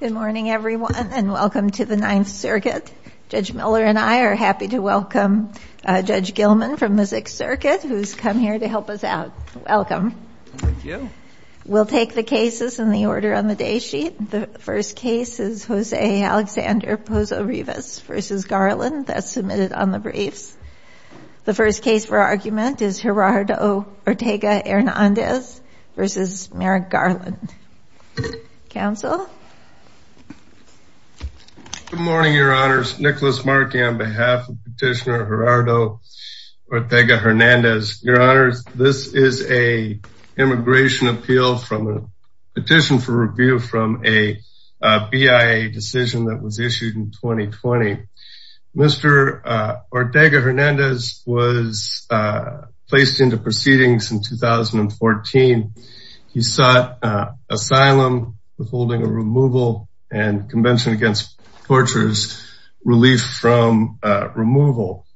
Good morning everyone and welcome to the Ninth Circuit. Judge Miller and I are happy to welcome Judge Gilman from the Sixth Circuit who's come here to help us out. Welcome. We'll take the cases in the order on the day sheet. The first case is Jose Alexander Pozo-Rivas v. Garland that's submitted on the briefs. The first case for argument is Gerardo Ortega-Hernandez v. Merrick Garland. Counsel. Good morning your honors. Nicholas Markey on behalf of Petitioner Gerardo Ortega-Hernandez. Your honors, this is a immigration appeal from a petition for review from a BIA decision that was issued in 2020. Mr. Ortega-Hernandez was placed into proceedings in 2014. He sought asylum with holding a removal and Convention Against Tortures relief from removal.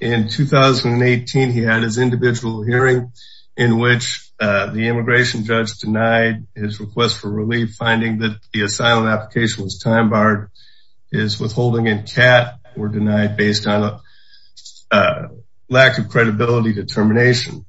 In 2018, he had his individual hearing in which the immigration judge denied his request for relief finding that the asylum application was time-barred, his withholding and CAT were denied based on a lack of credibility determination.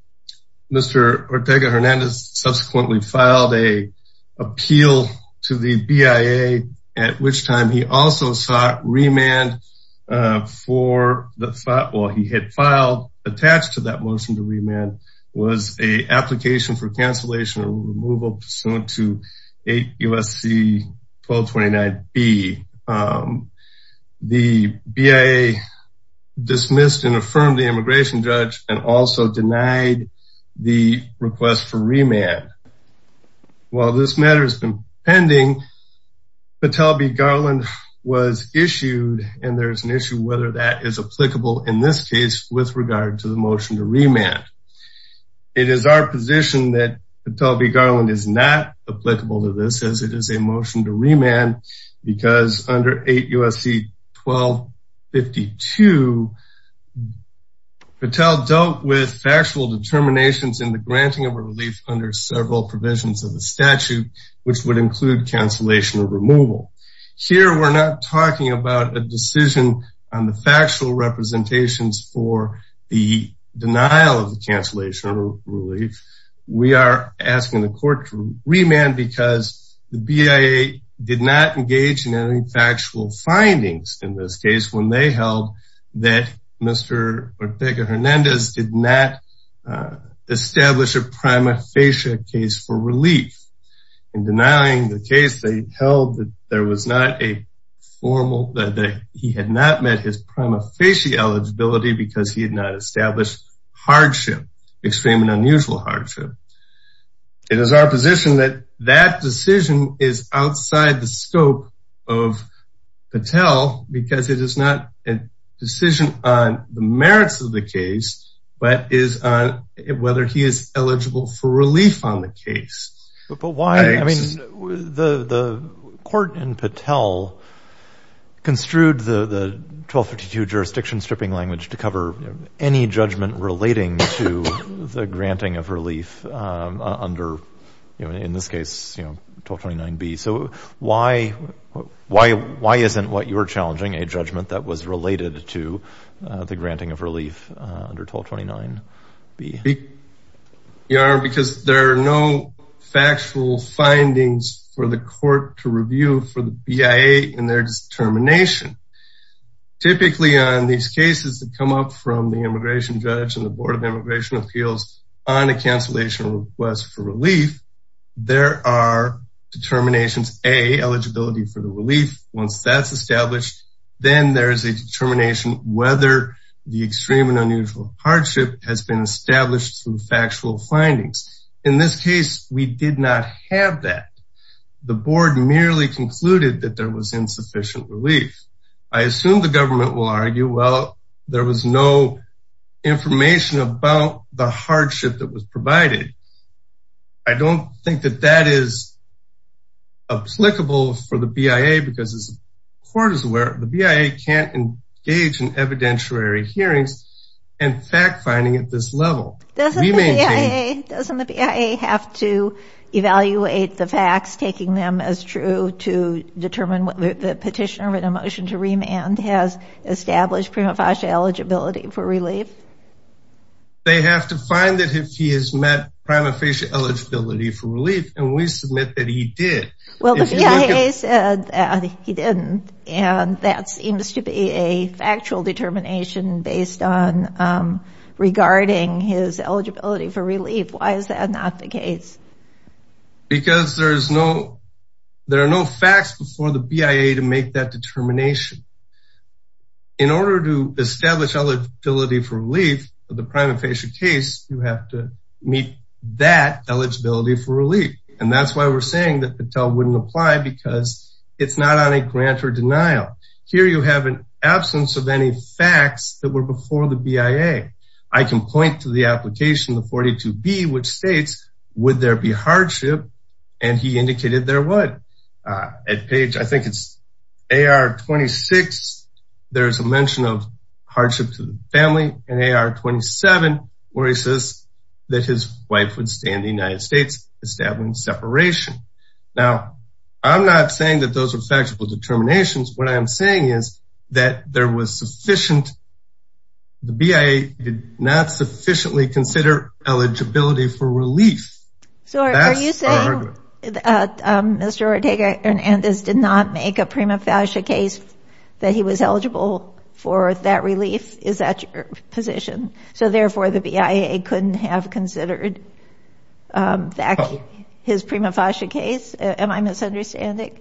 Mr. Ortega-Hernandez subsequently filed a appeal to the BIA at which time he also sought remand for the thought while he had filed attached to that motion to remand was a application for cancellation of removal pursuant to 8 U.S.C. 1229 B. The BIA dismissed and affirmed the immigration judge and also denied the request for remand. While this matter has been pending, Patel v. Garland was issued and there is an issue whether that is applicable in this case with regard to the motion to remand. It is our position that Patel v. Garland is not applicable to this as it is a motion to remand because under 8 U.S.C. 1252, Patel dealt with factual determinations in the granting of relief under several provisions of the statute, which would include cancellation of removal. Here we are not talking about a decision on the factual representations for the denial of the cancellation of relief. We are asking the court to remand because the BIA did not engage in any factual findings in this case when they held that Mr. Ortega-Hernandez did not establish a prima facie case for relief. In denying the case, they held that there was not a formal – that he had not met his prima facie eligibility because he had not established hardship, extreme and unusual hardship. It is our position that that decision is outside the scope of Patel because it is not a decision on the merits of the case, but is on whether he is eligible for relief on the case. But why? I mean, the court in Patel construed the 1252 jurisdiction stripping language to cover any judgment relating to the granting of relief under, in this case, 1229B. So why isn't what you're challenging a judgment that was related to the granting of relief under 1229B? You are, because there are no factual findings for the court to review for the BIA in their determination. Typically, on these cases that come up from the immigration judge and the Board of Immigration Appeals on a cancellation request for relief, there are determinations, A, for the relief. Once that's established, then there is a determination whether the extreme and unusual hardship has been established through factual findings. In this case, we did not have that. The board merely concluded that there was insufficient relief. I assume the government will argue, well, there was no information about the hardship that was provided. I don't think that that is applicable for the BIA because, as the court is aware, the BIA can't engage in evidentiary hearings and fact-finding at this level. Doesn't the BIA have to evaluate the facts, taking them as true to determine what the petitioner in a motion to remand has established prima facie eligibility for relief? They have to find that he has met prima facie eligibility for relief, and we submit that he did. Well, the BIA said that he didn't, and that seems to be a factual determination based on regarding his eligibility for relief. Why is that not the case? Because there are no facts before the BIA to make that determination. In order to establish eligibility for relief for the prima facie case, you have to meet that eligibility for relief, and that's why we're saying that Patel wouldn't apply because it's not on a grant or denial. Here you have an absence of any facts that were before the BIA. I can point to the application, the 42B, which states, would there be hardship, and he indicated there would. At page, I think it's AR 26, there's a mention of hardship to the family, and AR 27, where he says that his wife would stay in the United States, establishing separation. Now, I'm not saying that those are factual determinations. What I'm saying is that there was sufficient, the BIA did not sufficiently consider eligibility for relief. So, are you saying that Mr. Ortega Hernandez did not make a prima facie case that he was eligible for that relief? Is that your position? So, therefore, the BIA couldn't have considered that his prima facie case? Am I misunderstanding?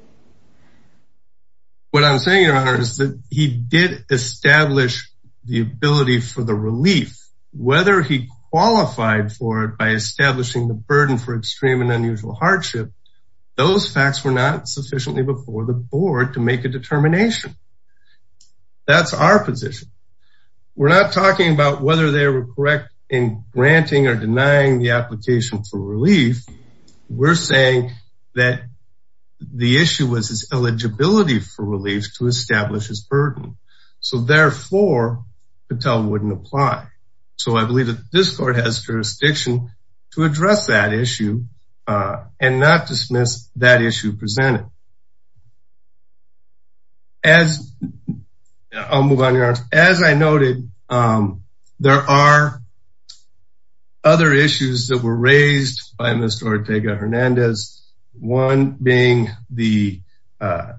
What I'm saying, Your Honor, is that he did establish the ability for the relief, whether he qualified for it by establishing the burden for extreme and unusual hardship, those facts were not sufficiently before the board to make a determination. That's our position. We're not talking about whether they were correct in granting or denying the application for relief. We're saying that the issue was his eligibility for relief to establish his burden. So, therefore, Patel wouldn't apply. So, I believe that this court has jurisdiction to address that issue and not dismiss that issue presented. I'll move on, Your Honor. As I noted, there are other issues that were raised by Mr. Ortega Hernandez, one being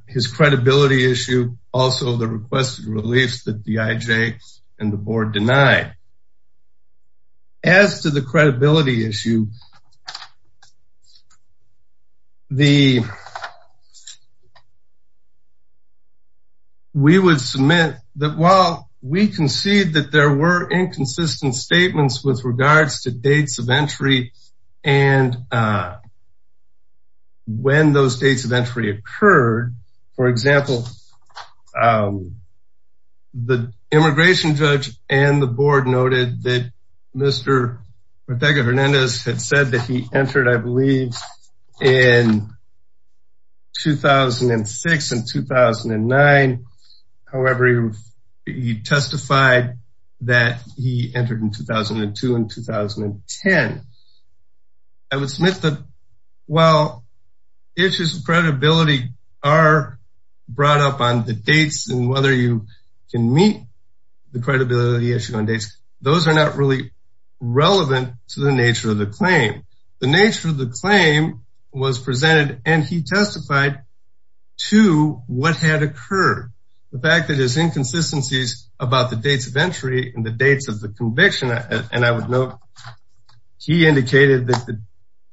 his credibility issue, also the requested reliefs that the IJ and the board denied. As to the credibility issue, we would submit that while we concede that there were inconsistent statements with regards to dates of entry and when those dates of entry occurred, for example, the immigration judge and the board noted that Mr. Ortega Hernandez had said that he entered, I believe, in 2006 and 2009. However, he testified that he entered in 2002 and 2010. I would submit that while issues of credibility are brought up on the dates and whether you can meet the credibility issue on dates, those are not really relevant to the nature of the claim. The nature of the claim was presented and he testified to what had occurred. The fact that there's inconsistencies about the dates of entry and the dates of the conviction, and I would note he indicated that the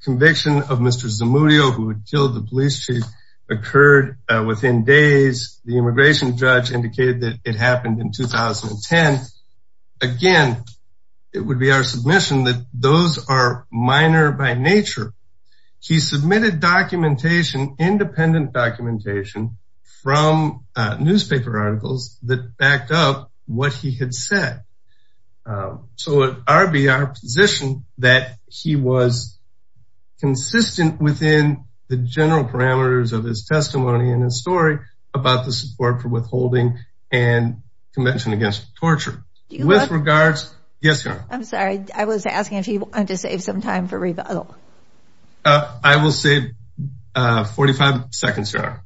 conviction of Mr. Zamudio, who had killed the police chief, occurred within days. The immigration judge indicated that it happened in 2010. Again, it would be our submission that those are minor by nature. He submitted independent documentation from newspaper articles that backed up what he had said. So, it would be our position that he was consistent within the general parameters of his testimony and his story about the support for withholding and convention against torture. I'm sorry, I was asking if you wanted to save some time for rebuttal. I will save 45 seconds. All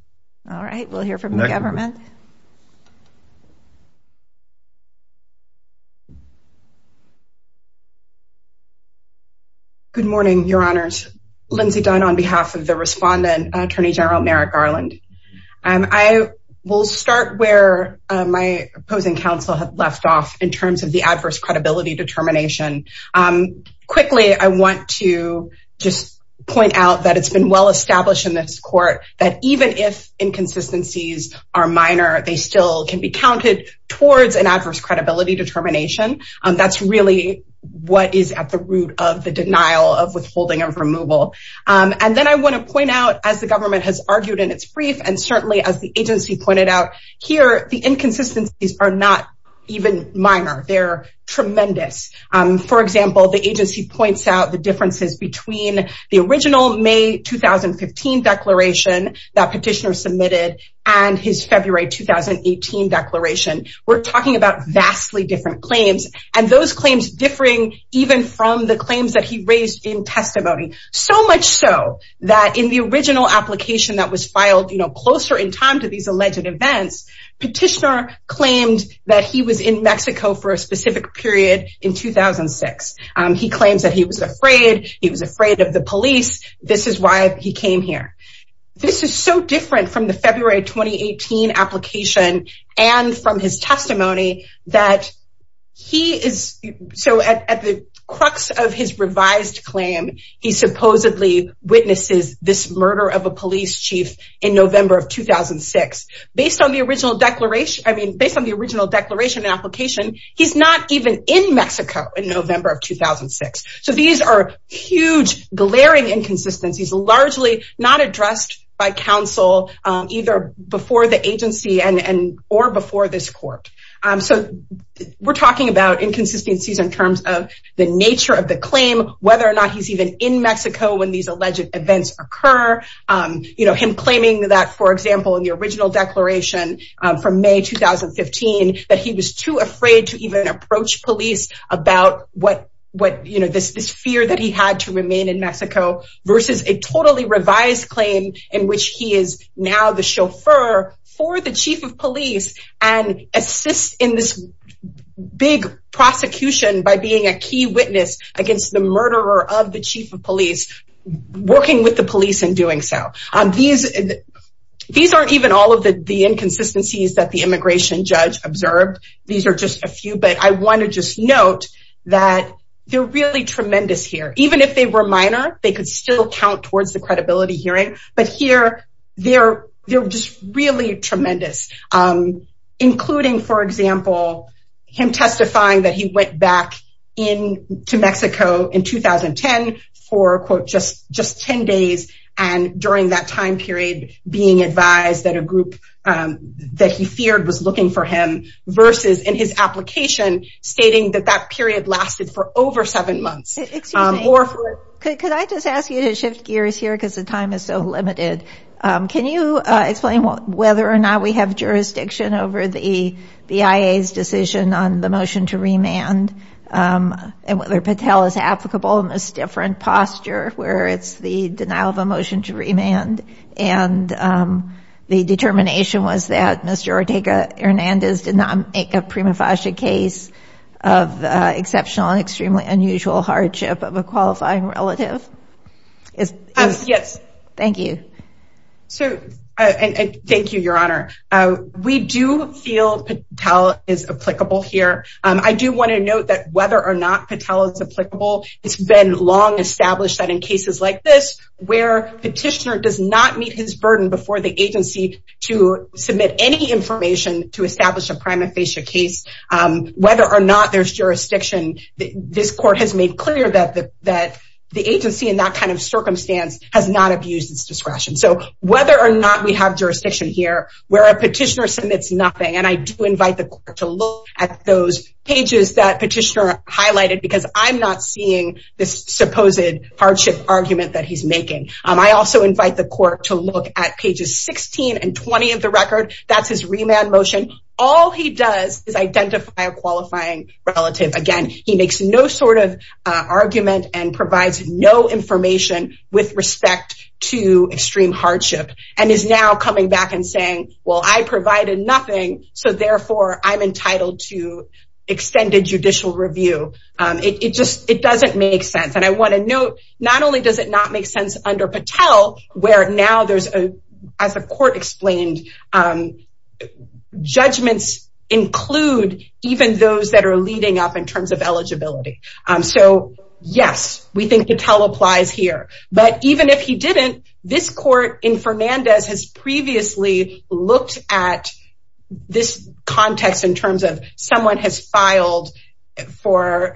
right, we'll hear from the government. Good morning, your honors. Lindsay Dunn on behalf of the respondent, Attorney General Merrick Arland. I will start where my opposing counsel had left off in terms of the adverse credibility determination. Quickly, I want to just point out that it's been well established in this court that even if inconsistencies are minor, they still can be counted towards an adverse credibility determination. That's really what is at the root of the denial of withholding and removal. And then I want to point out, as the government has argued in its brief, and certainly as the agency pointed out here, the inconsistencies are not even minor. They're tremendous. For example, the agency points out the differences between the original May 2015 declaration that petitioner and his February 2018 declaration. We're talking about vastly different claims, and those claims differing even from the claims that he raised in testimony. So much so that in the original application that was filed, you know, closer in time to these alleged events, petitioner claimed that he was in Mexico for a specific period in 2006. He claims that he was February 2018 application, and from his testimony, that he is so at the crux of his revised claim, he supposedly witnesses this murder of a police chief in November of 2006. Based on the original declaration, I mean, based on the original declaration and application, he's not even in Mexico in November of 2006. So these are huge, glaring inconsistencies, largely not addressed by counsel, either before the agency and or before this court. So we're talking about inconsistencies in terms of the nature of the claim, whether or not he's even in Mexico when these alleged events occur. You know, him claiming that, for example, in the original declaration from May 2015, that he was too afraid to even approach police about what, you know, this fear that he had to remain in Mexico versus a totally revised claim in which he is now the chauffeur for the chief of police and assists in this big prosecution by being a key witness against the murderer of the chief of police, working with the police in doing so. These aren't even all of the inconsistencies that the immigration judge observed. These are just a few, but I want to just note that they're really tremendous here. Even if they were minor, they could still count towards the credibility hearing. But here, they're just really tremendous, including, for example, him testifying that he went back into Mexico in 2010 for, quote, just 10 days. And during that time period, being advised that a group that he feared was looking for him versus in his application stating that that period lasted for over seven months. Could I just ask you to shift gears here because the time is so limited? Can you explain whether or not we have jurisdiction over the BIA's decision on the motion to remand and whether Patel is applicable in this different posture where it's the denial of a motion to remand? And the determination was that Mr. Ortega Hernandez did not make a prima facie case of exceptional and extremely unusual hardship of a qualifying relative? Yes. Thank you. So, thank you, Your Honor. We do feel Patel is applicable here. I do want to note that whether or not Patel is applicable, it's been long established that in cases like this, where petitioner does not meet his burden before the agency to submit any information to establish a prima facie case, whether or not there's jurisdiction, this court has made clear that the agency in that kind of circumstance has not abused its discretion. So, whether or not we have jurisdiction here, where a petitioner submits nothing, and I do invite the court to look at those pages that petitioner highlighted because I'm not seeing this supposed hardship argument that he's making. I also invite the court to look at pages 16 and 20 of the record. That's his remand motion. All he does is identify a qualifying relative. Again, he makes no sort of argument and provides no information with respect to extreme hardship and is now coming back and saying, well, I provided nothing. So, therefore, I'm entitled to extended judicial review. It just doesn't make sense. And I want to note, not only does it not make sense under Patel, where now there's, as the court explained, judgments include even those that are leading up in terms of eligibility. So, yes, we think Patel applies here. But even if he didn't, this court in Fernandez has previously looked at this context in terms of someone has filed for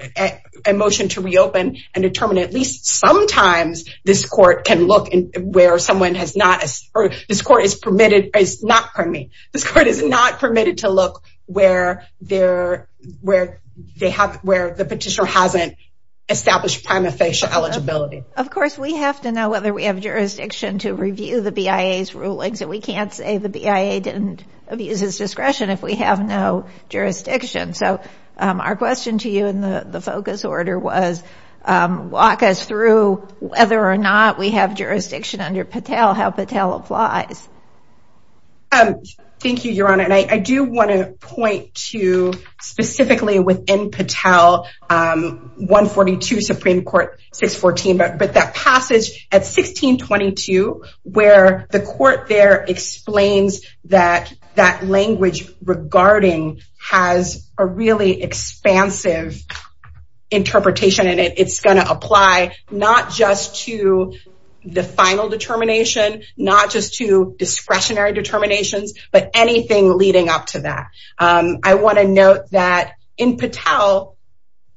a motion to reopen and determine at least sometimes this court can look where someone has not, or this court is permitted, is not, pardon me, this court is not permitted to look where the petitioner hasn't established prima facie eligibility. Of course, we have to know whether we have jurisdiction to review the BIA's rulings, and we can't say the BIA didn't abuse his ruling. Our question to you in the focus order was, walk us through whether or not we have jurisdiction under Patel, how Patel applies. Thank you, Your Honor. And I do want to point to specifically within Patel, 142 Supreme Court 614, but that passage at 1622, where the court there that language regarding has a really expansive interpretation, and it's going to apply not just to the final determination, not just to discretionary determinations, but anything leading up to that. I want to note that in Patel,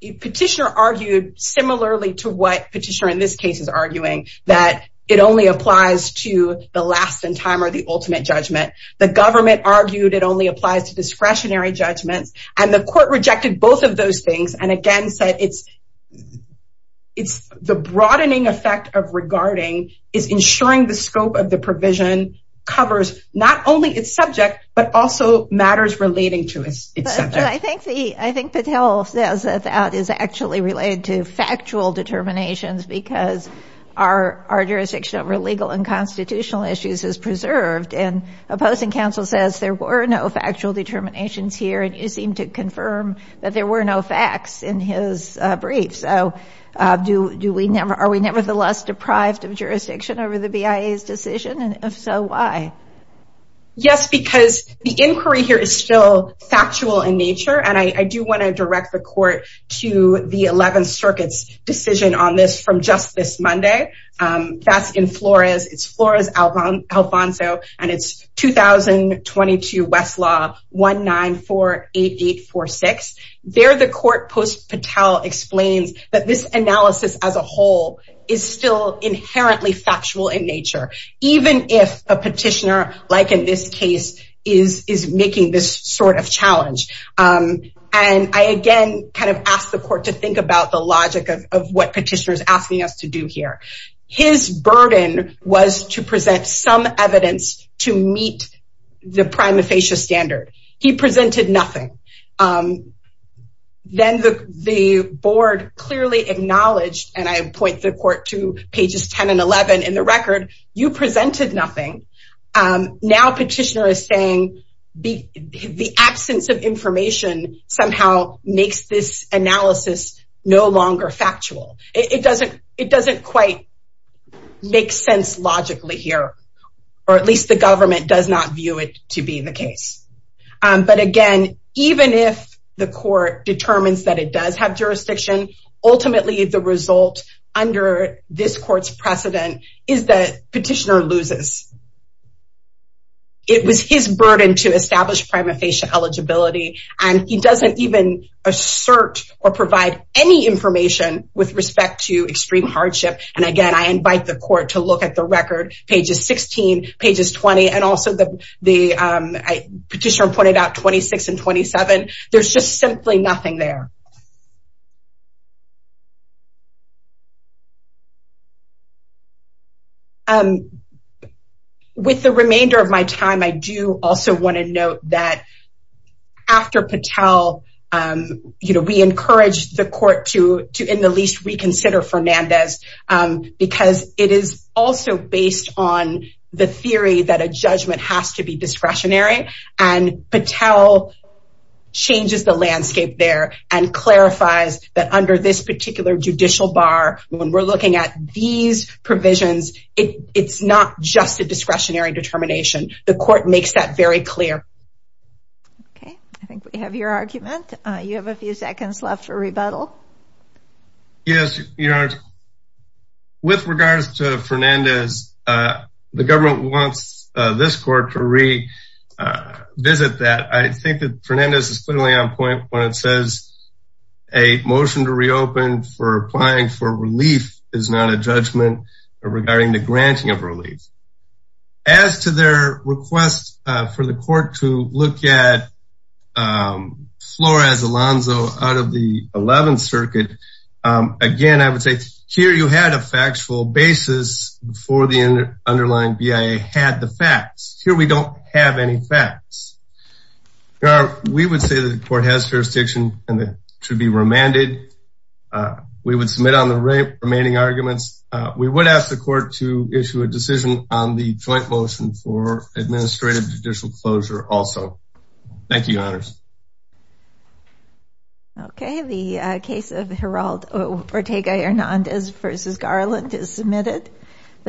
petitioner argued similarly to what petitioner in this case is arguing, that it only applies to the last in time or the ultimate judgment. The government argued it only applies to discretionary judgments, and the court rejected both of those things, and again said it's, it's the broadening effect of regarding is ensuring the scope of the provision covers not only its subject, but also matters relating to its subject. I think the, I think Patel says that that is actually related to factual determinations, because our, our jurisdiction over legal and constitutional issues is preserved, and opposing counsel says there were no factual determinations here, and you seem to confirm that there were no facts in his brief. So do, do we never, are we nevertheless deprived of jurisdiction over the BIA's decision, and if so, why? Yes, because the inquiry here is still ongoing. I do want to direct the court to the 11th Circuit's decision on this from just this Monday. That's in Flores, it's Flores Alfonso, and it's 2022 Westlaw 1948846. There the court post Patel explains that this analysis as a whole is still inherently factual in nature, even if a petitioner like in this case is, is making this sort of challenge, and I again kind of asked the court to think about the logic of what petitioner is asking us to do here. His burden was to present some evidence to meet the prima facie standard. He presented nothing. Then the, the board clearly acknowledged, and I point the court to pages 10 and 11 in the record, you presented nothing, now petitioner is saying the, the absence of information somehow makes this analysis no longer factual. It doesn't, it doesn't quite make sense logically here, or at least the government does not view it to be the case. But again, even if the court determines that it does have jurisdiction, ultimately the result under this court's precedent is that petitioner loses it was his burden to establish prima facie eligibility, and he doesn't even assert or provide any information with respect to extreme hardship. And again, I invite the court to look at the record pages 16 pages 20 and also the, the petitioner pointed out 26 and 27. There's just simply nothing there. With the remainder of my time, I do also want to note that after Patel, you know, we encourage the court to to in the least reconsider Fernandez, because it is also based on the theory that a changes the landscape there and clarifies that under this particular judicial bar, when we're looking at these provisions, it's not just a discretionary determination. The court makes that very clear. Okay, I think we have your argument. You have a few seconds left for rebuttal. Yes, your honor. With regards to Fernandez, the government wants this court to revisit that I think that Fernandez is clearly on point when it says a motion to reopen for applying for relief is not a judgment regarding the granting of relief. As to their request for the court to look at Flores Alonzo out of the 11th circuit. Again, I would say here you had a factual basis before the underlying BIA had the facts. Here we don't have any facts. We would say that the court has jurisdiction and that should be remanded. We would submit on the remaining arguments. We would ask the court to issue a decision on the joint motion for administrative judicial closure also. Thank you, honors. Okay, the case of Heraldo Ortega Hernandez versus Garland is submitted.